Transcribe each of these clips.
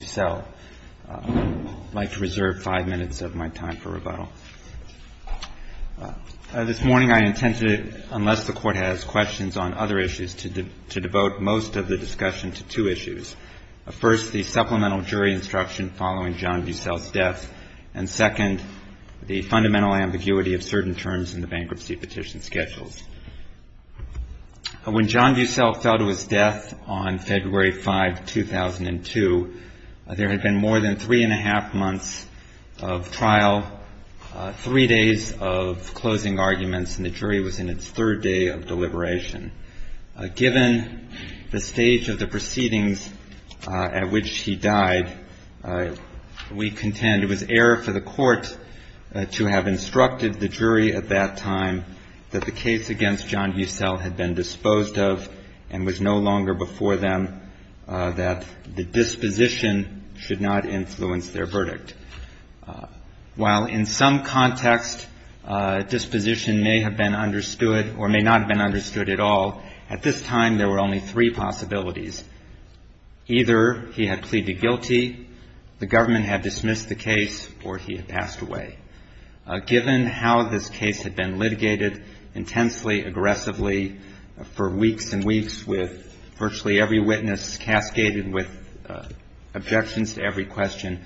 I would like to reserve five minutes of my time for rebuttal. This morning I intended, unless the Court has questions on other issues, to devote most of the discussion to two issues. First, the supplemental jury instruction following John Bussell's death, and second, the fundamental ambiguity of certain terms in the bankruptcy There had been more than three-and-a-half months of trial, three days of closing arguments, and the jury was in its third day of deliberation. Given the stage of the proceedings at which he died, we contend it was error for the Court to have instructed the jury at that time that the case against John Bussell had been disposed of and was no longer before them, that the disposition should not influence their verdict. While in some context disposition may have been understood, or may not have been understood at all, at this time there were only three possibilities. Either he had pleaded guilty, the government had dismissed the case, or he had passed away. Given how this case had been litigated intensely, aggressively for weeks and weeks, with virtually every witness cascaded with objections to every question,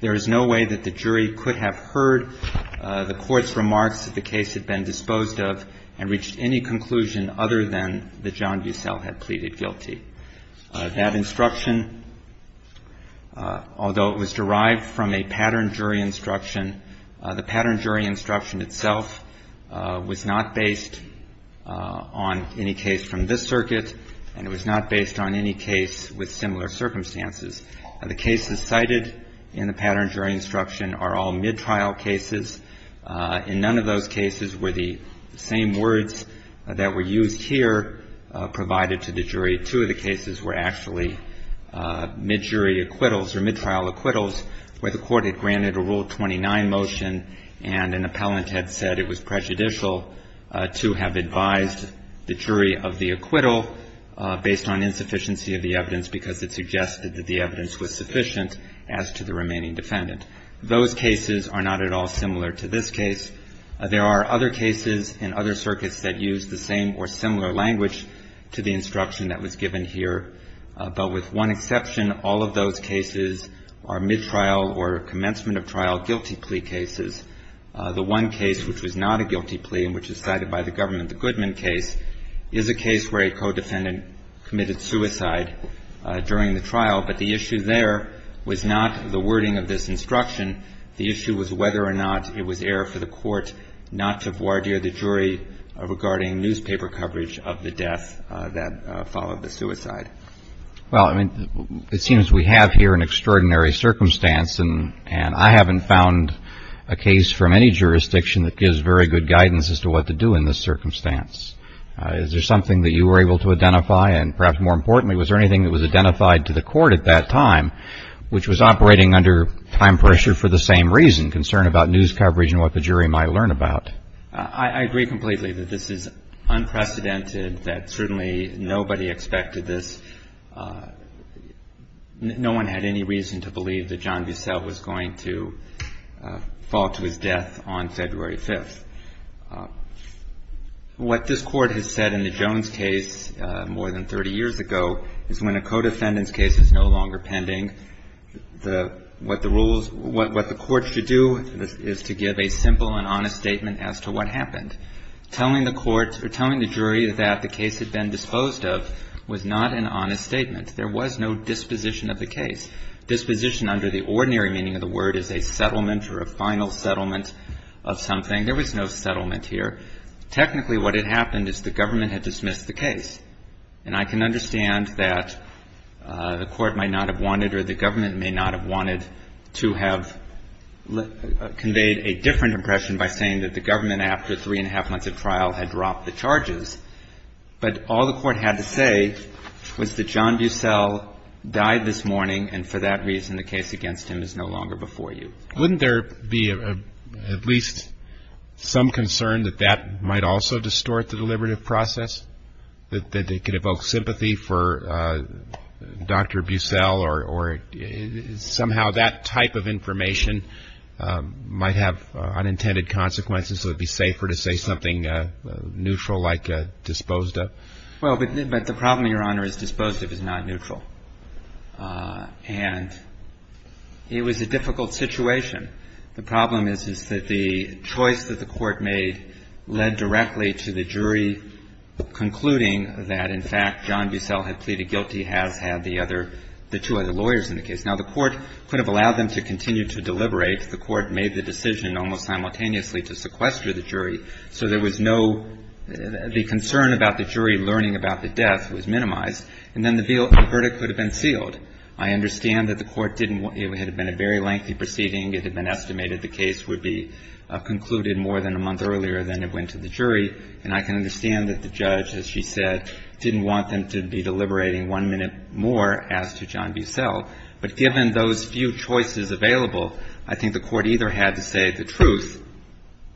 there is no way that the jury could have heard the Court's remarks that the case had been disposed of and reached any conclusion other than that John Bussell had pleaded guilty. That instruction, although it was derived from a pattern jury instruction, the pattern jury instruction was not based on any case from this circuit, and it was not based on any case with similar circumstances. The cases cited in the pattern jury instruction are all mid-trial cases. In none of those cases were the same words that were used here provided to the jury. Two of the cases were actually mid-jury acquittals or mid-trial acquittals where the Court had granted a Rule 29 motion and an appellant had said it was prejudicial to have advised the jury of the acquittal based on insufficiency of the evidence because it suggested that the evidence was sufficient as to the remaining defendant. Those cases are not at all similar to this case. There are other cases in other circuits that use the same or similar language to the instruction that was given here, but with one exception, all of those cases are mid-trial or commencement of trial guilty plea cases. The one case which was not a guilty plea and which is cited by the government, the Goodman case, is a case where a co-defendant committed suicide during the trial, but the issue there was not the wording of this instruction. The issue was whether or not it was error for the Court not to voir dire the jury regarding it. Well, I mean, it seems we have here an extraordinary circumstance, and I haven't found a case from any jurisdiction that gives very good guidance as to what to do in this circumstance. Is there something that you were able to identify, and perhaps more importantly, was there anything that was identified to the Court at that time which was operating under time pressure for the same reason, concern about news coverage and what the jury might learn about? I agree completely that this is unprecedented, that certainly nobody expected this. No one had any reason to believe that John Bissell was going to fall to his death on February 5th. What this Court has said in the Jones case more than 30 years ago is when a co-defendant's case is no longer pending, what the rules, what the Court should do is to give a simple and honest statement as to what happened. Telling the court or telling the jury that the case had been disposed of was not an honest statement. There was no disposition of the case. Disposition under the ordinary meaning of the word is a settlement or a final settlement of something. There was no settlement here. Technically, what had happened is the government had dismissed the case. And I can understand that the Court might not have wanted or the government may not have wanted to have conveyed a different impression by saying that the government, after three and a half months of trial, had dropped the charges. But all the Court had to say was that John Bissell died this morning, and for that reason, the case against him is no longer before you. Wouldn't there be at least some concern that that might also distort the deliberative process, that it could evoke sympathy for Dr. Bissell, or somehow that type of information might have unintended consequences, so it'd be safer to say something neutral like disposed of? Well, but the problem, Your Honor, is disposed of is not neutral. And it was a difficult situation. The problem is, is that the choice that the Court made led directly to the jury concluding that, in fact, John Bissell had pleaded guilty, has had the other – the two other lawyers in the case. Now, the Court could have allowed them to continue to deliberate. The Court made the decision almost simultaneously to sequester the jury, so there was no – the concern about the jury learning about the death was minimized. And then the verdict could have been sealed. I understand that the Court didn't – it had been a very lengthy proceeding. It had been estimated the case would be concluded more than a month earlier than it went to the jury. And I can understand that the judge, as she said, didn't want them to be deliberating one minute more as to John Bissell. But given those few choices available, I think the Court either had to say the truth,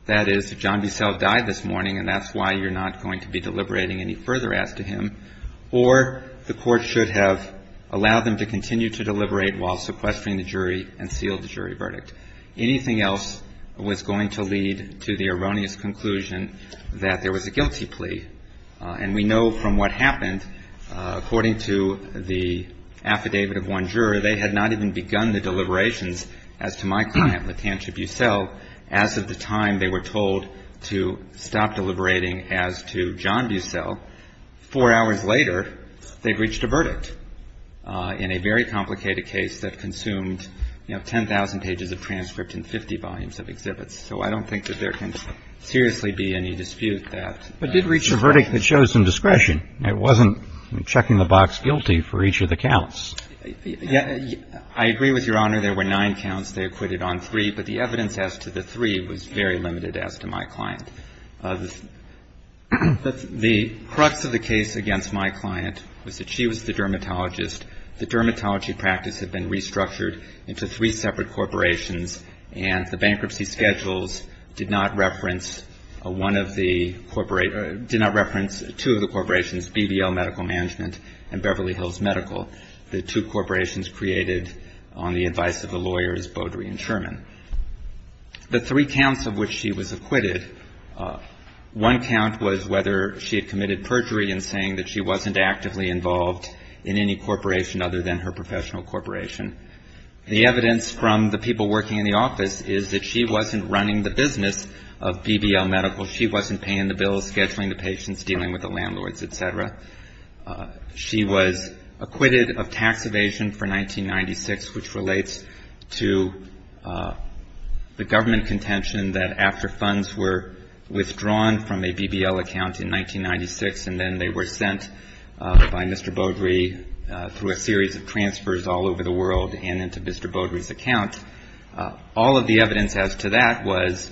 that is, if John Bissell died this morning and that's why you're not going to be deliberating any further as to him, or the Court should have allowed them to continue to deliberate while sequestering the jury and sealed the jury verdict. Anything else was going to lead to the erroneous conclusion that there was a guilty plea. And we know from what happened, according to the affidavit of one juror, they had not even begun the deliberations as to my client, LaTantia Bissell, as of the time they were told to stop deliberating as to John Bissell. Four hours later, they'd reached a verdict in a very complicated case that consumed, you know, 10,000 pages of transcript and 50 volumes of exhibits. So I don't think that there can seriously be any dispute that that's the case. But did reach a verdict that shows some discretion. It wasn't checking the box guilty for each of the counts. I agree with Your Honor. There were nine counts. They acquitted on three. But the evidence as to the three was very limited as to my client. The crux of the case against my client was that she was the dermatologist. The dermatology practice had been restructured into three separate corporations. And the bankruptcy schedules did not reference one of the corporate or did not reference two of the corporations, BBL Medical Management and Beverly Hills Medical, the two corporations created on the advice of the lawyers Beaudry and Sherman. The three counts of which she was acquitted, one count was whether she had committed perjury in saying that she wasn't actively involved in any corporation other than her professional corporation. The evidence from the people working in the office is that she wasn't running the business of BBL Medical. She wasn't paying the bills, scheduling the patients, dealing with the landlords, et cetera. She was acquitted of tax evasion for 1996, which relates to the government contention that after funds were withdrawn from a BBL account in 1996 and then they were sent by Mr. Beaudry through a series of transfers all over the world and into Mr. Beaudry's account, all of the evidence as to that was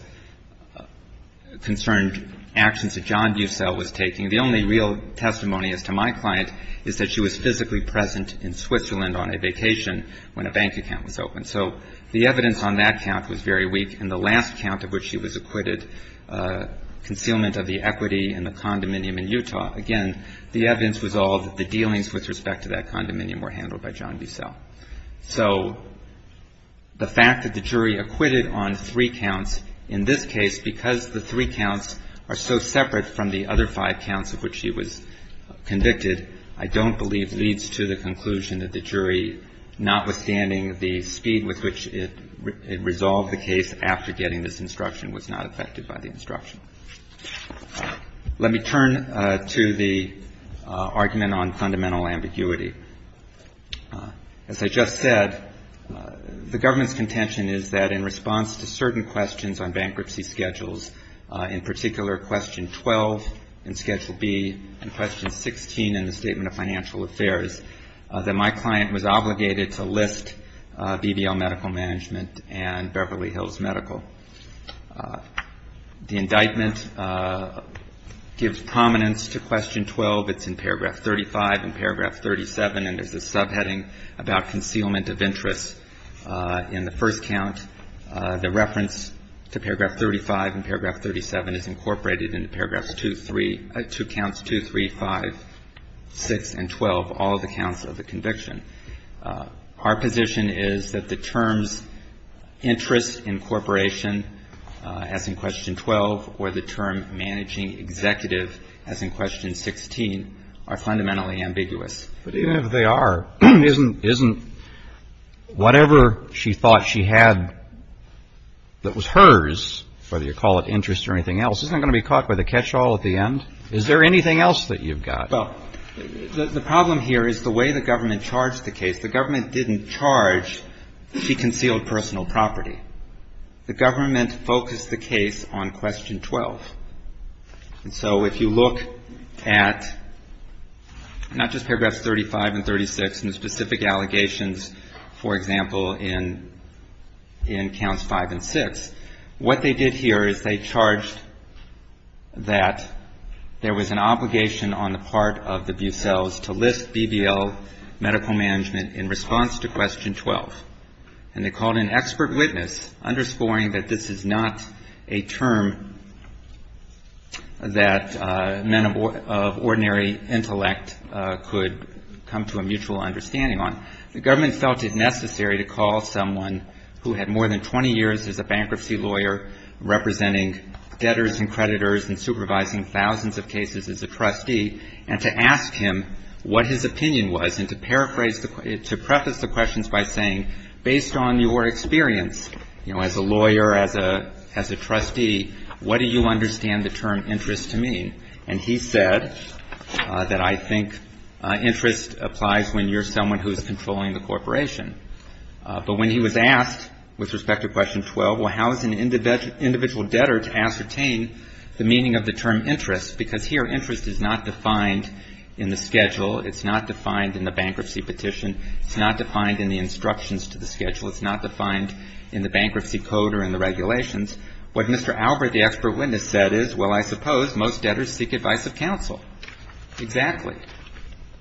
concerned actions that John Busell was taking. The only real testimony as to my client is that she was physically present in Switzerland on a vacation when a bank account was opened. So the evidence on that count was very weak, and the last count of which she was acquitted, concealment of the equity and the condominium in Utah, again, the evidence was all that the dealings with respect to that condominium were handled by John Busell. So the fact that the jury acquitted on three counts in this case because the three counts are so separate from the other five counts of which she was convicted, I don't believe leads to the conclusion that the jury, notwithstanding the speed with which it resolved the case after getting this instruction, was not affected by the instruction. Let me turn to the argument on fundamental ambiguity. As I just said, the government's contention is that in response to certain questions on bankruptcy schedules, in particular question 12 in schedule B and question 16 in the Statement of Financial Affairs, that my client was obligated to list BBL Medical Management and Beverly Hills Medical. The indictment gives prominence to question 12. It's in paragraph 35 and paragraph 37, and there's a subheading about concealment of interest. In the first count, the reference to paragraph 35 and paragraph 37 is incorporated into paragraphs 2, 3, two counts 2, 3, 5, 6, and 12, all of the counts of the conviction. Our position is that the terms interest incorporation, as in question 12, or the term managing executive, as in question 16, are fundamentally ambiguous. But even if they are, isn't whatever she thought she had that was hers, whether you call it interest or anything else, isn't going to be caught by the catch-all at the end? Is there anything else that you've got? Well, the problem here is the way the government charged the case. The government didn't charge that she concealed personal property. The government focused the case on question 12. And so if you look at not just paragraphs 35 and 36 and the specific allegations, for example, in counts 5 and 6, what they did here is they charged that there was an obligation on the part of the Bucelles to list BBL Medical Management in response to question 12. And they called an expert witness, underscoring that this is not a term that men of ordinary intellect could come to a mutual understanding on. The government felt it necessary to call someone who had more than 20 years as a bankruptcy lawyer representing debtors and creditors and supervising thousands of cases as a trustee, and to ask him what his opinion was, and to paraphrase the question, to preface the questions by saying, based on your experience, you know, as a lawyer, as a trustee, what do you understand the term interest to mean? And he said that I think interest applies when you're someone who's controlling the corporation. But when he was asked with respect to question 12, well, how is an individual debtor to ascertain the meaning of the term interest? Because here, interest is not defined in the schedule. It's not defined in the bankruptcy petition. It's not defined in the instructions to the schedule. It's not defined in the bankruptcy code or in the regulations. What Mr. Albert, the expert witness, said is, well, I suppose most debtors seek advice of counsel. Exactly.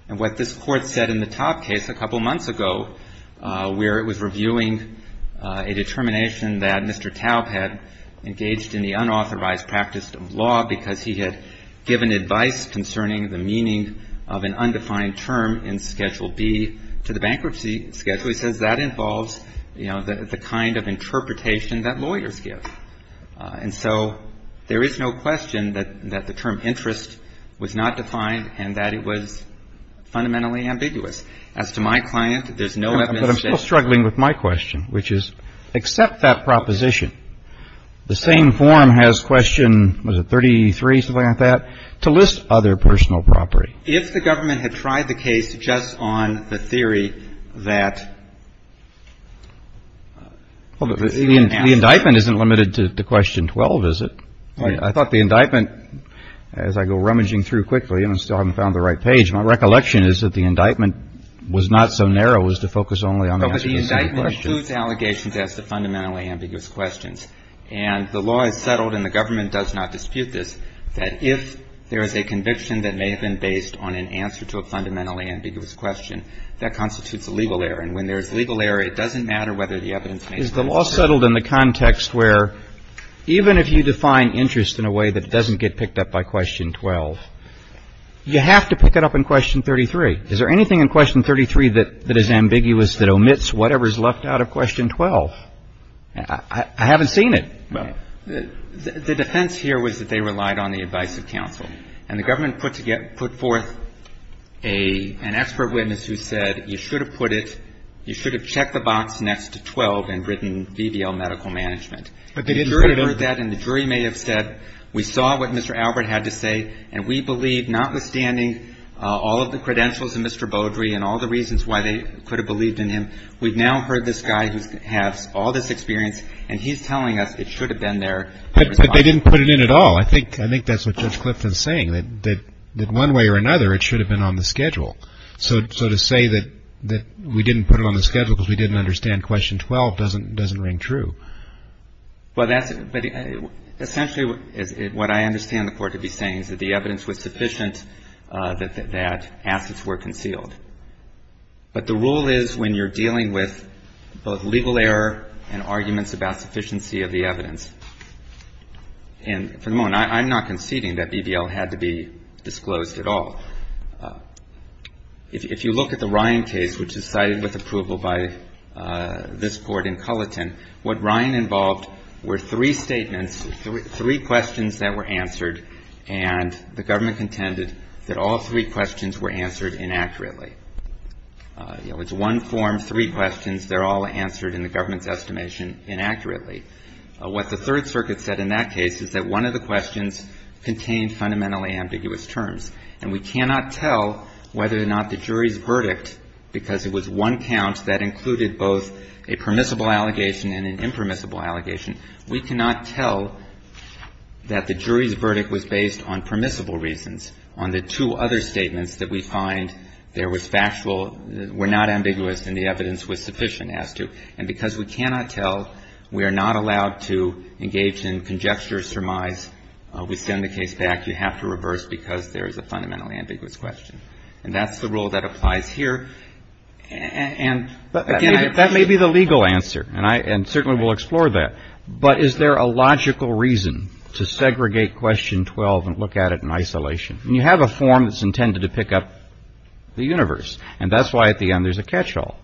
And what this Court said in the Taub case a couple months ago, where it was reviewing a determination that Mr. Taub had engaged in the unauthorized practice of law because he had given advice concerning the meaning of an undefined term in Schedule B to the bankruptcy schedule. He says that involves, you know, the kind of interpretation that lawyers give. And so there is no question that the term interest was not defined and that it was fundamentally ambiguous. As to my client, there's no evidence that it was. But I'm still struggling with my question, which is, accept that proposition. The same form has question, what is it, 33, something like that, to list other personal property. If the government had tried the case just on the theory that... Well, the indictment isn't limited to question 12, is it? I thought the indictment, as I go rummaging through quickly, and I still haven't found the right page, my recollection is that the indictment was not so narrow as to focus only on the answer to a single question. But the indictment includes allegations as to fundamentally ambiguous questions. And the law is settled, and the government does not dispute this, that if there is a conviction that may have been based on an answer to a fundamentally ambiguous question, that constitutes a legal error. And when there is a legal error, it doesn't matter whether the evidence... Is the law settled in the context where even if you define interest in a way that doesn't get picked up by question 12, you have to pick it up in question 33? Is there anything in question 33 that is ambiguous that omits whatever is left out of question 12? I haven't seen it. The defense here was that they relied on the advice of counsel. And the government put forth an expert witness who said you should have put it, you should have checked the box next to 12 and written VBL medical management. But they didn't put it in. The jury heard that, and the jury may have said we saw what Mr. Albert had to say, and we believe notwithstanding all of the credentials of Mr. Beaudry and all the reasons why they could have believed in him, we've now heard this guy who has all this experience, and he's telling us it should have been there. But they didn't put it in at all. I think that's what Judge Clifton is saying, that one way or another it should have been on the schedule. So to say that we didn't put it on the schedule because we didn't understand question 12 doesn't ring true. Essentially what I understand the court to be saying is that the evidence was sufficient that assets were concealed. But the rule is when you're dealing with both legal error and arguments about sufficiency of the evidence, and for the moment I'm not conceding that VBL had to be disclosed at all. If you look at the Ryan case, which is cited with approval by this Court in Culleton, what Ryan involved were three statements, three questions that were answered, and the government contended that all three questions were answered inaccurately. You know, it's one form, three questions. They're all answered in the government's estimation inaccurately. What the Third Circuit said in that case is that one of the questions contained fundamentally ambiguous terms, and we cannot tell whether or not the jury's verdict, because it was one count that included both a permissible allegation and an impermissible allegation, we cannot tell that the jury's verdict was based on permissible reasons, on the two other statements that we find there was factual, were not ambiguous, and the evidence was sufficient as to. And because we cannot tell, we are not allowed to engage in conjecture surmise. We send the case back. You have to reverse because there is a fundamentally ambiguous question. And that's the rule that applies here. And, again, I. Roberts. That may be the legal answer, and I, and certainly we'll explore that. But is there a logical reason to segregate Question 12 and look at it in isolation? And you have a form that's intended to pick up the universe, and that's why at the end there's a catch-all.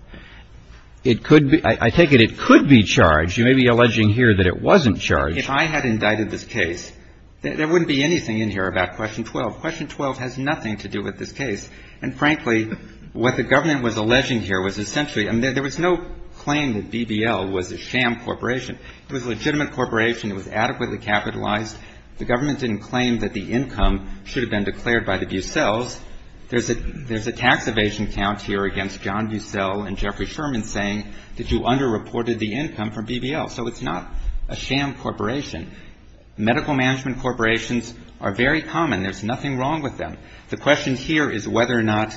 It could be, I take it it could be charged. You may be alleging here that it wasn't charged. If I had indicted this case, there wouldn't be anything in here about Question 12. Question 12 has nothing to do with this case. And, frankly, what the government was alleging here was essentially, I mean, there was no claim that BBL was a sham corporation. It was a legitimate corporation. It was adequately capitalized. The government didn't claim that the income should have been declared by the Bucells. There's a tax evasion count here against John Bucell and Jeffrey Sherman saying that you underreported the income from BBL. So it's not a sham corporation. Medical management corporations are very common. There's nothing wrong with them. The question here is whether or not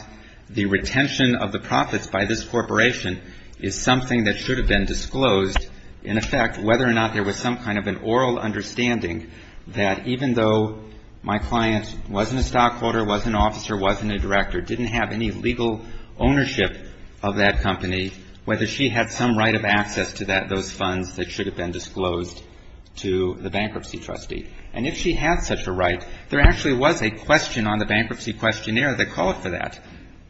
the retention of the profits by this corporation is something that should have been disclosed. In effect, whether or not there was some kind of an oral understanding that even though my client wasn't a stockholder, wasn't an officer, wasn't a director, didn't have any legal ownership of that company, whether she had some right of access to those funds that should have been disclosed to the bankruptcy trustee. And if she had such a right, there actually was a question on the bankruptcy questionnaire that called for that.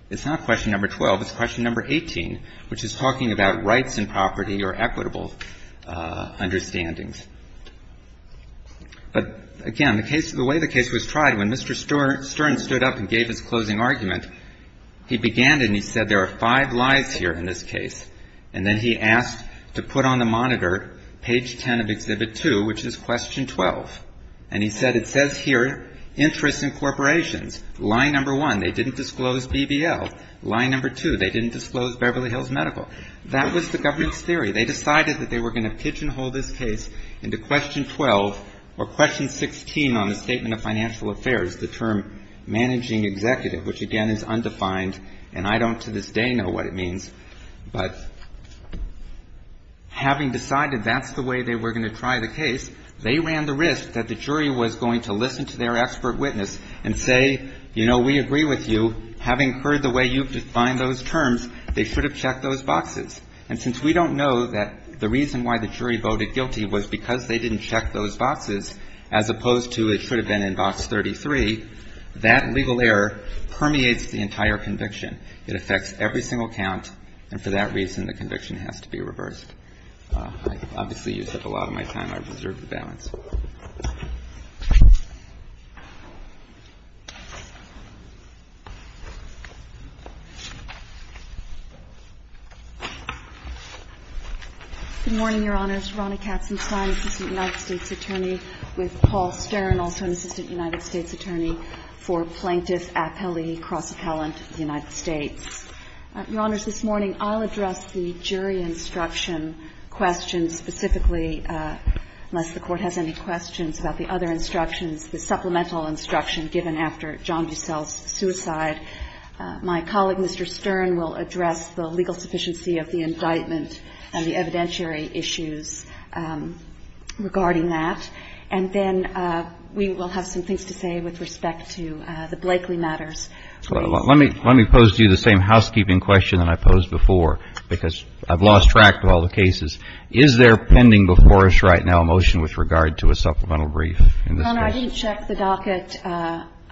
It's not Question Number 12. It's Question Number 18, which is talking about rights and property or equitable understandings. But, again, the way the case was tried, when Mr. Stern stood up and gave his closing argument, he began and he said, there are five lies here in this case. And then he asked to put on the monitor Page 10 of Exhibit 2, which is Question 12. And he said, it says here, interest in corporations. Lie Number 1, they didn't disclose BBL. Lie Number 2, they didn't disclose Beverly Hills Medical. That was the government's theory. They decided that they were going to pigeonhole this case into Question 12 or Question 16 on the Statement of Financial Affairs, the term managing executive, which, again, is undefined, and I don't, to this day, know what it means. But having decided that's the way they were going to try the case, they ran the risk that the jury was going to listen to their expert witness and say, you know, we agree with you. Having heard the way you've defined those terms, they should have checked those boxes. And since we don't know that the reason why the jury voted guilty was because they didn't check those boxes, as opposed to it should have been in Box 33, that legal error permeates the entire conviction. It affects every single count, and for that reason, the conviction has to be reversed. I obviously used up a lot of my time. I deserve the balance. Good morning, Your Honors. Ronna Katzenstein, Assistant United States Attorney, with Paul Stern, also an Assistant United States Attorney for Plaintiff Appellee Cross-Appellant, United States. Your Honors, this morning I'll address the jury instruction question specifically, unless the Court has any questions about the other instructions, the supplemental instruction given after John Bucell's suicide. My colleague, Mr. Stern, will address the legal sufficiency of the indictment and the evidentiary issues regarding that. And then we will have some things to say with respect to the Blakeley matters. Let me pose to you the same housekeeping question that I posed before, because I've lost track of all the cases. Is there pending before us right now a motion with regard to a supplemental brief in this case? Ronna, I didn't check the docket.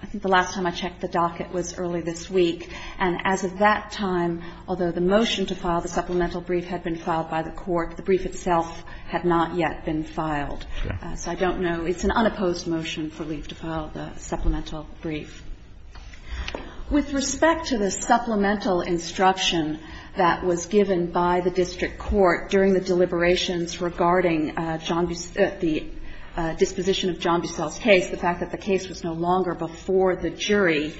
I think the last time I checked the docket was early this week. And as of that time, although the motion to file the supplemental brief had been filed by the Court, the brief itself had not yet been filed. So I don't know. It's an unopposed motion for Lee to file the supplemental brief. With respect to the supplemental instruction that was given by the district court during the deliberations regarding the disposition of John Bucell's case, the fact that the case was no longer before the jury,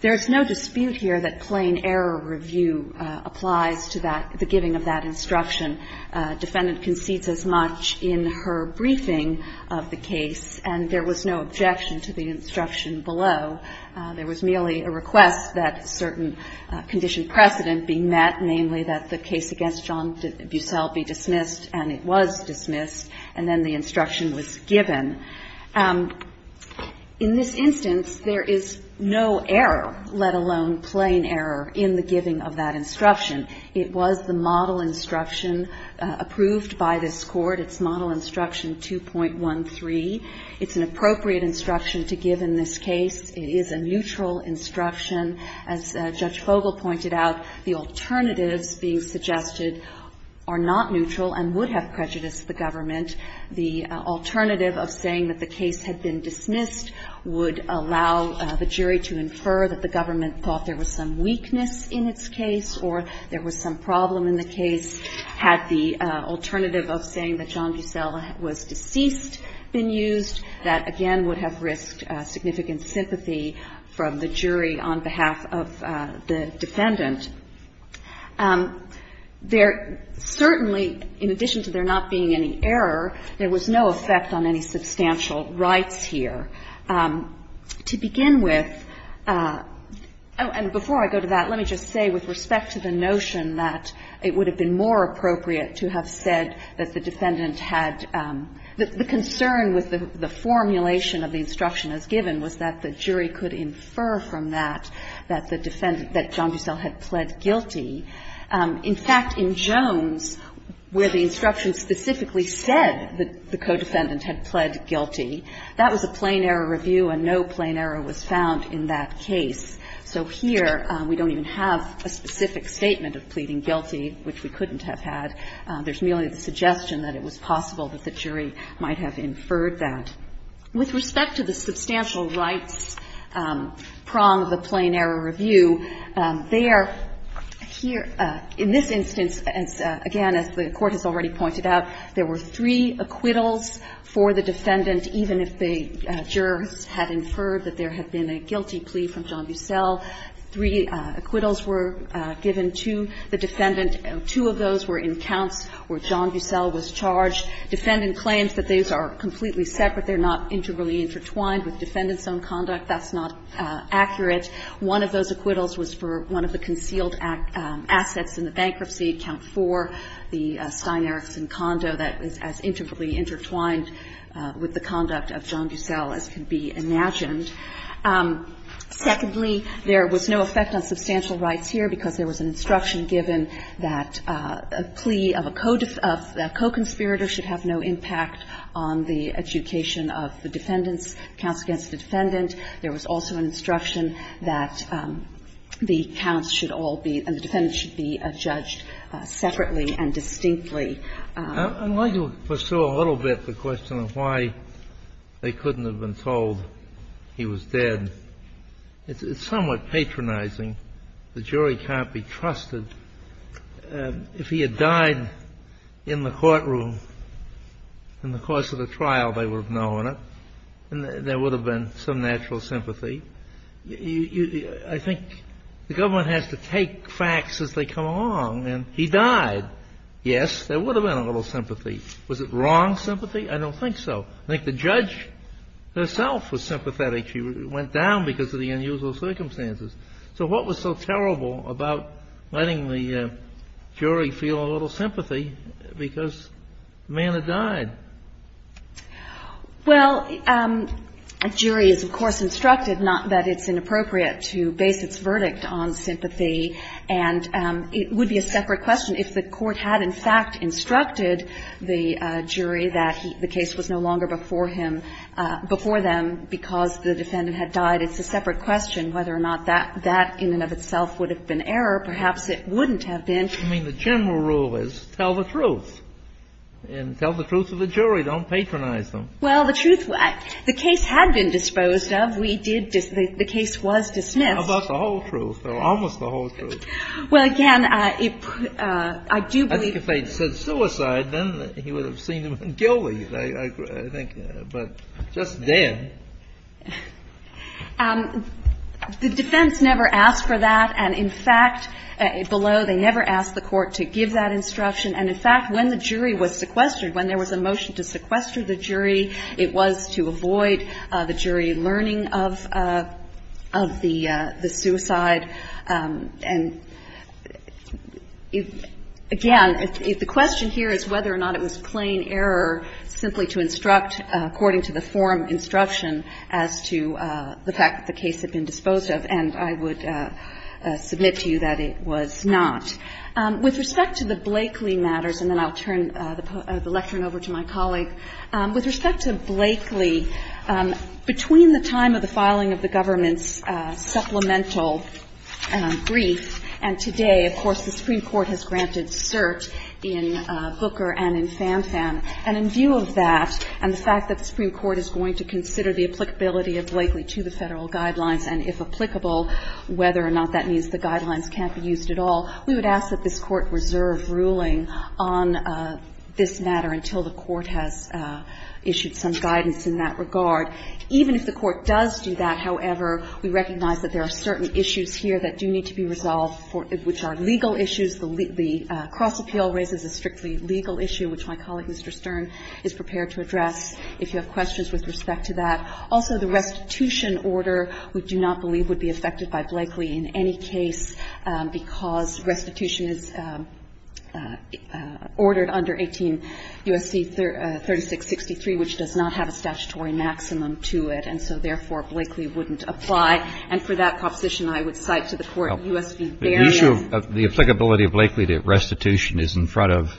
there is no dispute here that plain error review applies to the giving of that instruction. Defendant concedes as much in her briefing of the case, and there was no objection to the instruction below. There was merely a request that a certain condition precedent be met, namely that the case against John Bucell be dismissed, and it was dismissed, and then the instruction was given. In this instance, there is no error, let alone plain error, in the giving of that instruction. It was the model instruction approved by this Court. It's model instruction 2.13. It's an appropriate instruction to give in this case. It is a neutral instruction. As Judge Fogel pointed out, the alternatives being suggested are not neutral and would have prejudiced the government. The alternative of saying that the case had been dismissed would allow the jury to infer that the government thought there was some weakness in its case or there was some problem in the case had the alternative of saying that John Bucell was deceased been used. That again would have risked significant sympathy from the jury on behalf of the defendant. There certainly, in addition to there not being any error, there was no effect on any substantial rights here. To begin with, and before I go to that, let me just say with respect to the notion that it would have been more appropriate to have said that the defendant had the concern with the formulation of the instruction as given was that the jury could infer from that that the defendant, that John Bucell had pled guilty. In fact, in Jones, where the instruction specifically said that the co-defendant had pled guilty, that was a plain error review and no plain error was found in that case. So here we don't even have a specific statement of pleading guilty, which we couldn't have had. There's merely the suggestion that it was possible that the jury might have inferred that. With respect to the substantial rights prong of the plain error review, they are here – in this instance, again, as the Court has already pointed out, there were three acquittals for the defendant, even if the jurors had inferred that there had been a guilty plea from John Bucell, three acquittals were given to the defendant. Two of those were in counts where John Bucell was charged. Defendant claims that these are completely separate. They're not integrally intertwined. With defendant's own conduct, that's not accurate. One of those acquittals was for one of the concealed assets in the bankruptcy, Count 4, the Stein Erikson condo that was as integrally intertwined with the conduct of John Bucell as could be imagined. Secondly, there was no effect on substantial rights here because there was an instruction given that a plea of a co-conspirator should have no impact on the adjudication of the defendants, counts against the defendant. There was also an instruction that the counts should all be – and the defendants should be judged separately and distinctly. I'd like to pursue a little bit the question of why they couldn't have been told he was dead. It's somewhat patronizing. The jury can't be trusted. If he had died in the courtroom in the course of the trial, they would have known it, and there would have been some natural sympathy. I think the government has to take facts as they come along, and he died. Yes, there would have been a little sympathy. Was it wrong sympathy? I don't think so. I think the judge herself was sympathetic. She went down because of the unusual circumstances. So what was so terrible about letting the jury feel a little sympathy because the man had died? Well, a jury is, of course, instructed not that it's inappropriate to base its verdict on sympathy, and it would be a separate question if the Court had, in fact, instructed the jury that the case was no longer before him – before them because the defendant had died. It's a separate question whether or not that in and of itself would have been error. Perhaps it wouldn't have been. I mean, the general rule is tell the truth, and tell the truth of the jury. Don't patronize them. Well, the truth – the case had been disposed of. We did – the case was dismissed. How about the whole truth, or almost the whole truth? Well, again, I do believe – I think if they had said suicide, then he would have seen him guilty, I think. But just dead. The defense never asked for that, and, in fact, below, they never asked the Court to give that instruction. And, in fact, when the jury was sequestered, when there was a motion to sequester the jury, it was to avoid the jury learning of the suicide. And, again, the question here is whether or not it was plain error simply to instruct according to the forum instruction as to the fact that the case had been disposed of. And I would submit to you that it was not. With respect to the Blakeley matters – and then I'll turn the lectern over to my colleague – with respect to Blakeley, between the time of the filing of the government's supplemental brief and today, of course, the Supreme Court has granted cert in Booker and in Fanfan. And in view of that and the fact that the Supreme Court is going to consider the applicability of Blakeley to the Federal guidelines and, if applicable, whether or not that means the guidelines can't be used at all, we would ask that this Court reserve ruling on this matter until the Court has issued some guidance in that regard. Even if the Court does do that, however, we recognize that there are certain issues here that do need to be resolved, which are legal issues. The cross-appeal raises a strictly legal issue, which my colleague, Mr. Stern, is prepared to address if you have questions with respect to that. Also, the restitution order we do not believe would be affected by Blakeley in any case because restitution is ordered under 18 U.S.C. 3663, which does not have a statutory maximum to it. And so, therefore, Blakeley wouldn't apply. And for that proposition, I would cite to the Court U.S. v. Barrett. The issue of the applicability of Blakeley to restitution is in front of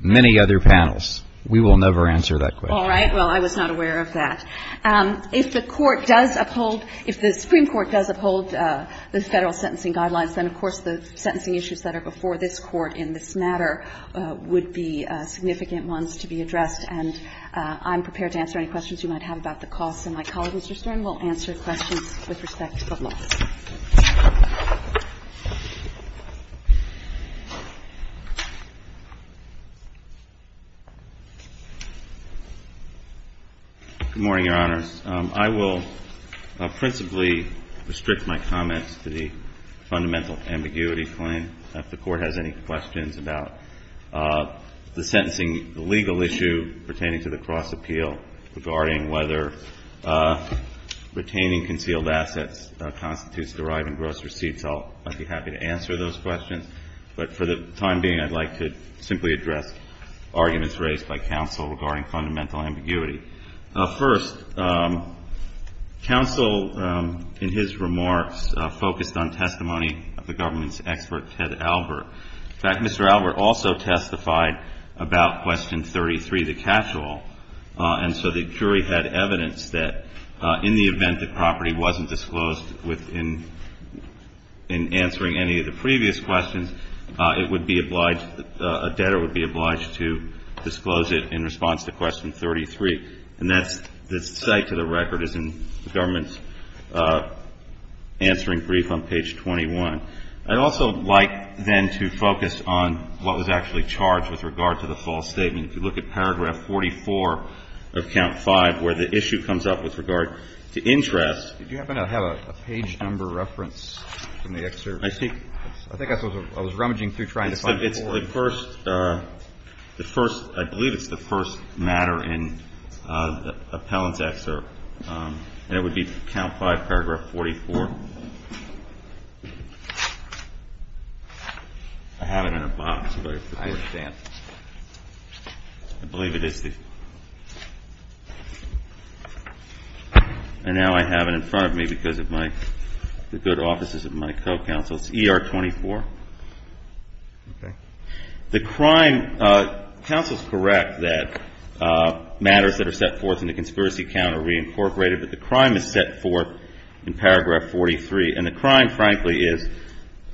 many other panels. We will never answer that question. All right. Well, I was not aware of that. If the Court does uphold – if the Supreme Court does uphold the Federal sentencing guidelines, then, of course, the sentencing issues that are before this Court in this matter would be significant ones to be addressed. And I'm prepared to answer any questions you might have about the costs. And my colleague, Mr. Stern, will answer questions with respect to the law. Good morning, Your Honors. I will principally restrict my comments to the fundamental ambiguity claim. If the Court has any questions about the sentencing – the legal issue pertaining to the cross-appeal regarding whether retaining concealed assets constitutes deriving gross receipts, I'll be happy to answer those questions. But for the time being, I'd like to simply address arguments raised by counsel regarding fundamental ambiguity. First, counsel, in his remarks, focused on testimony of the government's expert, Ted Albert. In fact, Mr. Albert also testified about question 33, the cash law. And so the jury had evidence that in the event the property wasn't disclosed in answering any of the previous questions, it would be obliged – a debtor would be obliged to disclose it in response to question 33. And that's – the site to the record is in the government's answering brief on page 21. I'd also like, then, to focus on what was actually charged with regard to the false statement. If you look at paragraph 44 of count 5, where the issue comes up with regard to interest – Do you happen to have a page number reference in the excerpt? I think – I think I saw – I was rummaging through trying to find it. It's the first – the first – I believe it's the first matter in the appellant's excerpt. And it would be count 5, paragraph 44. I have it in a box, but it's a good stamp. I believe it is the – and now I have it in front of me because of my – the good offices of my co-counsel. It's ER 24. Okay. The crime – counsel's correct that matters that are set forth in the conspiracy account are reincorporated, but the crime is set forth in paragraph 43. And the crime, frankly, is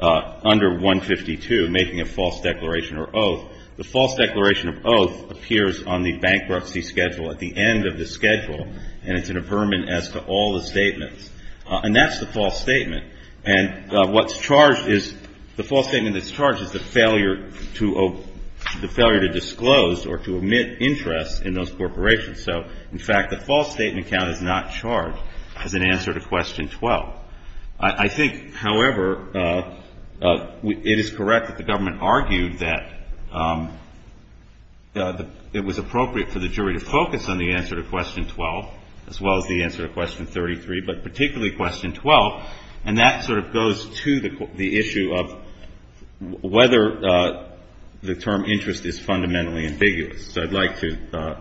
under 152, making a false declaration or oath. The false declaration of oath appears on the bankruptcy schedule at the end of the schedule, and it's in a permit as to all the statements. And that's the false statement. And what's charged is – the false statement that's charged is the failure to – the failure to disclose or to omit interest in those corporations. So, in fact, the false statement count is not charged as an answer to question 12. I think, however, it is correct that the government argued that it was appropriate for the jury to focus on the answer to question 12 as well as the answer to question 33, but particularly question 12. And that sort of goes to the issue of whether the term interest is fundamentally ambiguous. So I'd like to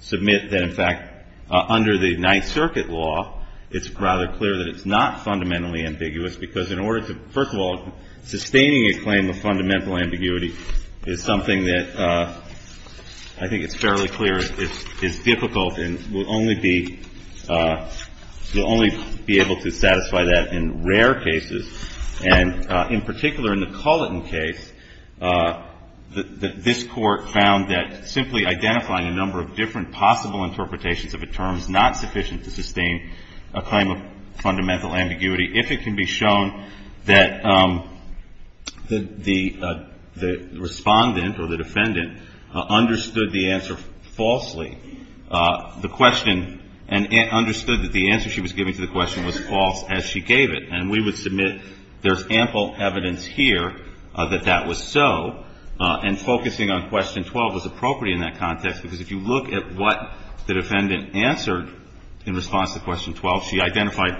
submit that, in fact, under the Ninth Circuit law, it's rather clear that it's not fundamentally ambiguous because in order to – first of all, sustaining a claim of fundamental ambiguity is something that I think it's fairly clear is difficult and will only be – you'll only be able to satisfy that in rare cases. And in particular, in the Culliton case, this Court found that simply identifying a number of different possible interpretations of a term is not sufficient to sustain a claim of fundamental ambiguity if it can be shown that the respondent or the defendant understood the answer falsely, the question, and understood that the answer she was giving to the question was false as she gave it. And we would submit there's ample evidence here that that was so, and focusing on question 12 was appropriate in that context because if you look at what the defendant answered in response to question 12, she identified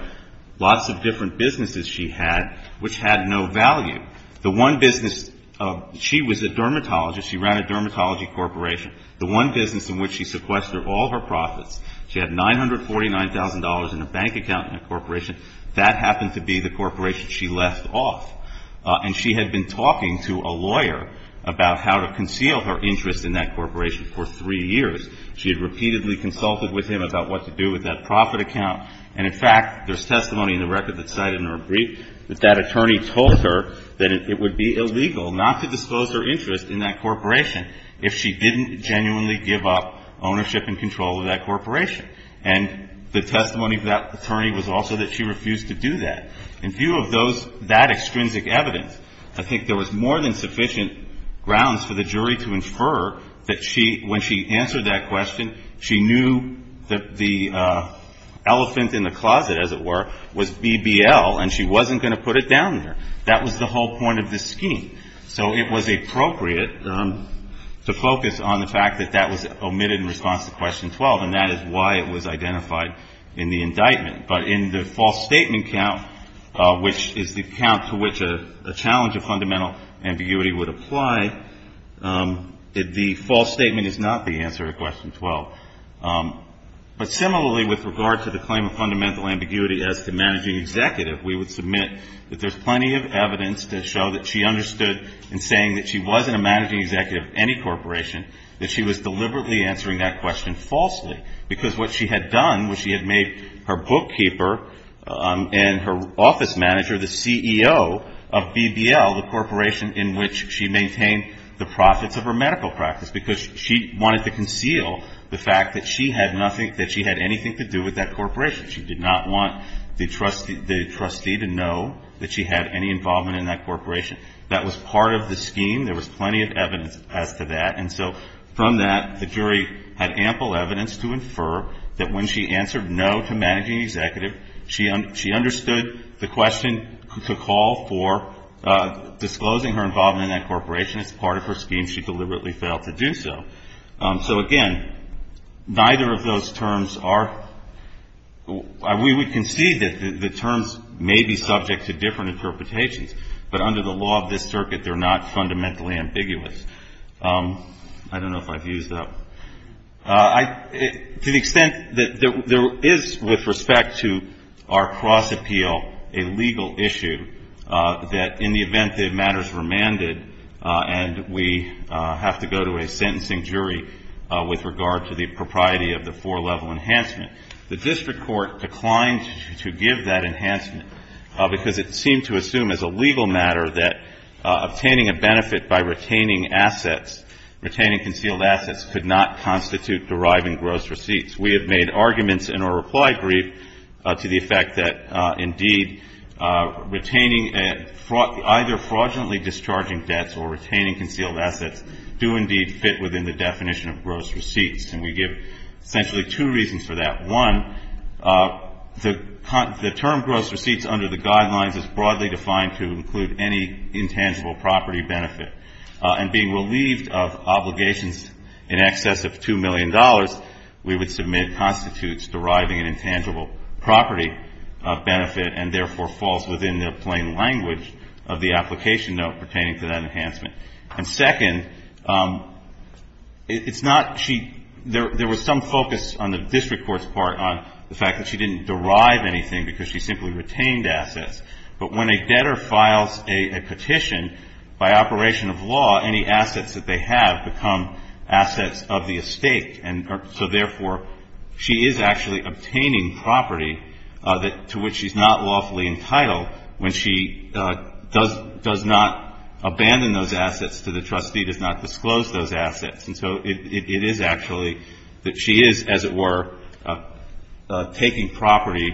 lots of different businesses she had which had no value. The one business – she was a dermatologist. She ran a dermatology corporation. The one business in which she sequestered all her profits, she had $949,000 in a bank account in that corporation. That happened to be the corporation she left off. And she had been talking to a lawyer about how to conceal her interest in that corporation for three years. She had repeatedly consulted with him about what to do with that profit account. And in fact, there's testimony in the record that's cited in her brief that that attorney told her that it would be illegal not to disclose her interest in that corporation if she didn't genuinely give up ownership and control of that corporation. And the testimony of that attorney was also that she refused to do that. In view of those – that extrinsic evidence, I think there was more than sufficient grounds for the jury to infer that she – when she answered that question, she knew that the elephant in the closet, as it were, was BBL, and she wasn't going to put it down there. That was the whole point of this scheme. So it was appropriate to focus on the fact that that was omitted in response to question 12, and that is why it was identified in the indictment. But in the false statement count, which is the count to which a challenge of fundamental ambiguity would apply, the false statement is not the answer to question 12. But similarly, with regard to the claim of fundamental ambiguity as to managing executive, we would submit that there's plenty of evidence to show that she understood in saying that she wasn't a managing executive of any corporation, that she was deliberately answering that question falsely. Because what she had done was she had made her bookkeeper and her office manager the CEO of BBL, the corporation in which she maintained the profits of her medical practice, because she wanted to conceal the fact that she had nothing – that she had anything to do with that corporation. She did not want the trustee to know that she had any involvement in that corporation. That was part of the scheme. There was plenty of evidence as to that. And so from that, the jury had ample evidence to infer that when she answered no to managing executive, she understood the question to call for disclosing her involvement in that corporation as part of her scheme. She deliberately failed to do so. So again, neither of those terms are – we would concede that the terms may be subject to different interpretations. But under the law of this circuit, they're not fundamentally ambiguous. I don't know if I've used that one. To the extent that there is, with respect to our cross-appeal, a legal issue that in the event that matters were mandated and we have to go to a sentencing jury with regard to the propriety of the four-level enhancement, the district court declined to give that enhancement because it seemed to assume as a legal matter that obtaining a benefit by retaining assets, retaining concealed assets, could not constitute deriving gross receipts. We have made arguments in our reply brief to the effect that indeed retaining either fraudulently discharging debts or retaining concealed assets do indeed fit within the definition of gross receipts. And we give essentially two reasons for that. One, the term gross receipts under the guidelines is broadly defined to include any And being relieved of obligations in excess of $2 million, we would submit constitutes deriving an intangible property of benefit and therefore falls within the plain language of the application note pertaining to that enhancement. And second, it's not – she – there was some focus on the district court's part on the fact that she didn't derive anything because she simply retained assets. But when a debtor files a petition, by operation of law, any assets that they have become assets of the estate. And so therefore, she is actually obtaining property to which she's not lawfully entitled when she does not abandon those assets to the trustee, does not disclose those assets. And so it is actually that she is, as it were, taking property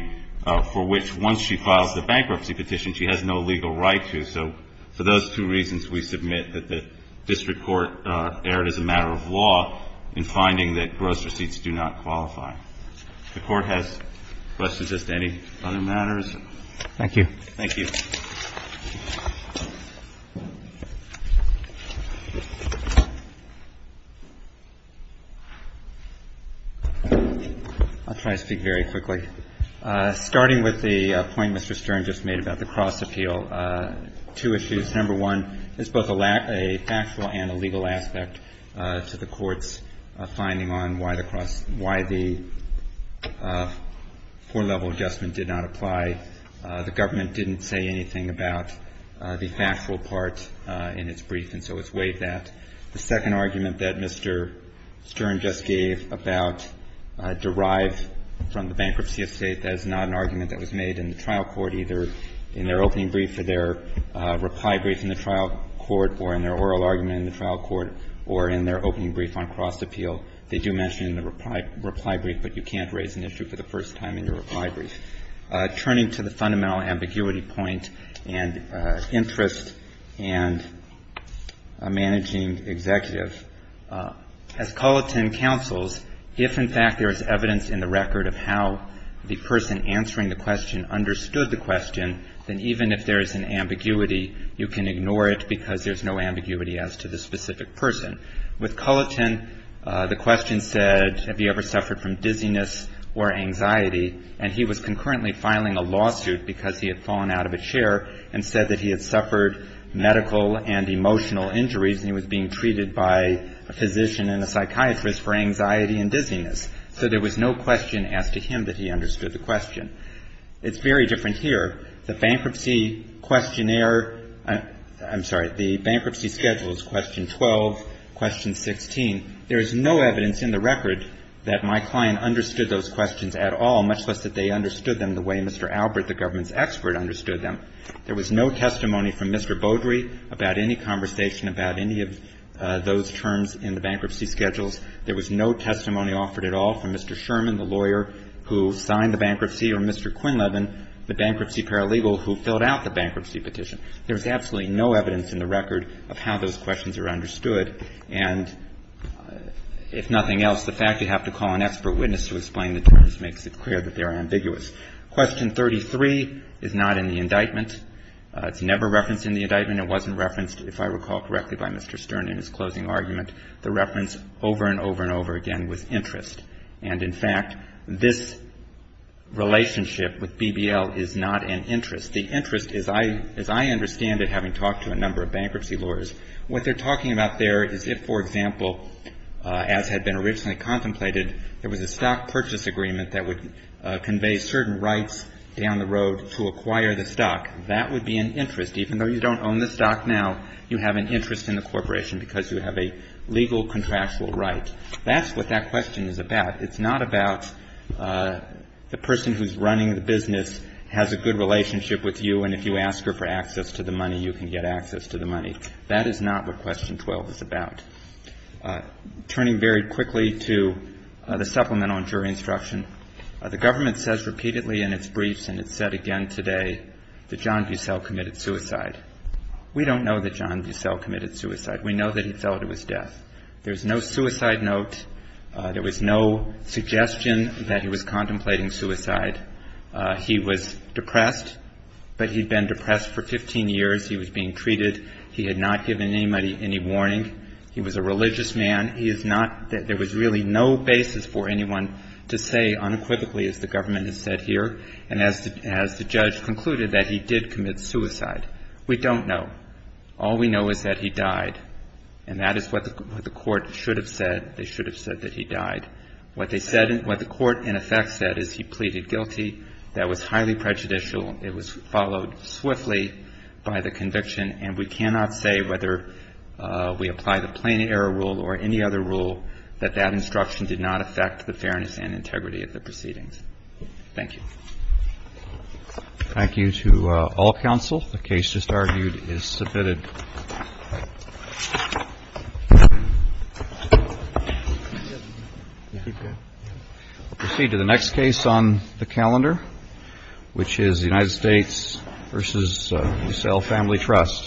for which once she files the bankruptcy petition, she has no legal right to. So for those two reasons, we submit that the district court erred as a matter of law in finding that gross receipts do not qualify. If the Court has questions as to any other matters. Thank you. Thank you. I'll try to speak very quickly. Starting with the point Mr. Stern just made about the cross appeal, two issues. Number one, it's both a factual and a legal aspect to the Court's finding on why the cross – why the four-level adjustment did not apply. The Government didn't say anything about the factual part in its brief, and so it's weighed that. The second argument that Mr. Stern just gave about derived from the bankruptcy of State, that is not an argument that was made in the trial court either in their opening brief or their reply brief in the trial court or in their oral argument in the trial court or in their opening brief on cross appeal. They do mention in the reply brief, but you can't raise an issue for the first time in your reply brief. Turning to the fundamental ambiguity point and interest and a managing executive, as Culliton counsels, if in fact there is evidence in the record of how the person answering the question understood the question, then even if there is an ambiguity, you can ignore it because there's no ambiguity as to the specific person. With Culliton, the question said, have you ever suffered from dizziness or anxiety? And he was concurrently filing a lawsuit because he had fallen out of a chair and said that he had suffered medical and emotional injuries and he was being treated by a physician and a psychiatrist for anxiety and dizziness. So there was no question as to him that he understood the question. It's very different here. The bankruptcy questionnaire, I'm sorry, the bankruptcy schedules, question 12, question 16, there is no evidence in the record that my client understood those questions at all, much less that they understood them the way Mr. Albert, the government's expert, understood them. There was no testimony from Mr. Beaudry about any conversation about any of those terms in the bankruptcy schedules. There was no testimony offered at all from Mr. Sherman, the lawyer who signed the bankruptcy, or Mr. Quinlevan, the bankruptcy paralegal who filled out the bankruptcy petition. There's absolutely no evidence in the record of how those questions are understood. And if nothing else, the fact you have to call an expert witness to explain the terms makes it clear that they are ambiguous. Question 33 is not in the indictment. It's never referenced in the indictment. It wasn't referenced, if I recall correctly, by Mr. Stern in his closing argument. The reference over and over and over again was interest. And in fact, this relationship with BBL is not an interest. What they're talking about there is if, for example, as had been originally contemplated, there was a stock purchase agreement that would convey certain rights down the road to acquire the stock. That would be an interest. Even though you don't own the stock now, you have an interest in the corporation because you have a legal contractual right. That's what that question is about. It's not about the person who's running the business has a good relationship with you, and if you ask her for access to the money, you can get access to the money. That is not what question 12 is about. Turning very quickly to the supplemental injury instruction, the government says repeatedly in its briefs, and it's said again today, that John Bussell committed suicide. We don't know that John Bussell committed suicide. We know that he fell to his death. There's no suicide note. There was no suggestion that he was contemplating suicide. He was depressed, but he'd been depressed for 15 years. He was being treated. He had not given anybody any warning. He was a religious man. There was really no basis for anyone to say unequivocally, as the government has said here, and as the judge concluded, that he did commit suicide. We don't know. All we know is that he died, and that is what the court should have said. They should have said that he died. What the court, in effect, said is he pleaded guilty. That was highly prejudicial. It was followed swiftly by the conviction, and we cannot say whether we apply the plain error rule or any other rule that that instruction did not affect the fairness and integrity of the proceedings. Thank you. Thank you to all counsel. The case just argued is submitted. We'll proceed to the next case on the calendar, which is the United States v. DeSalle Family Trust.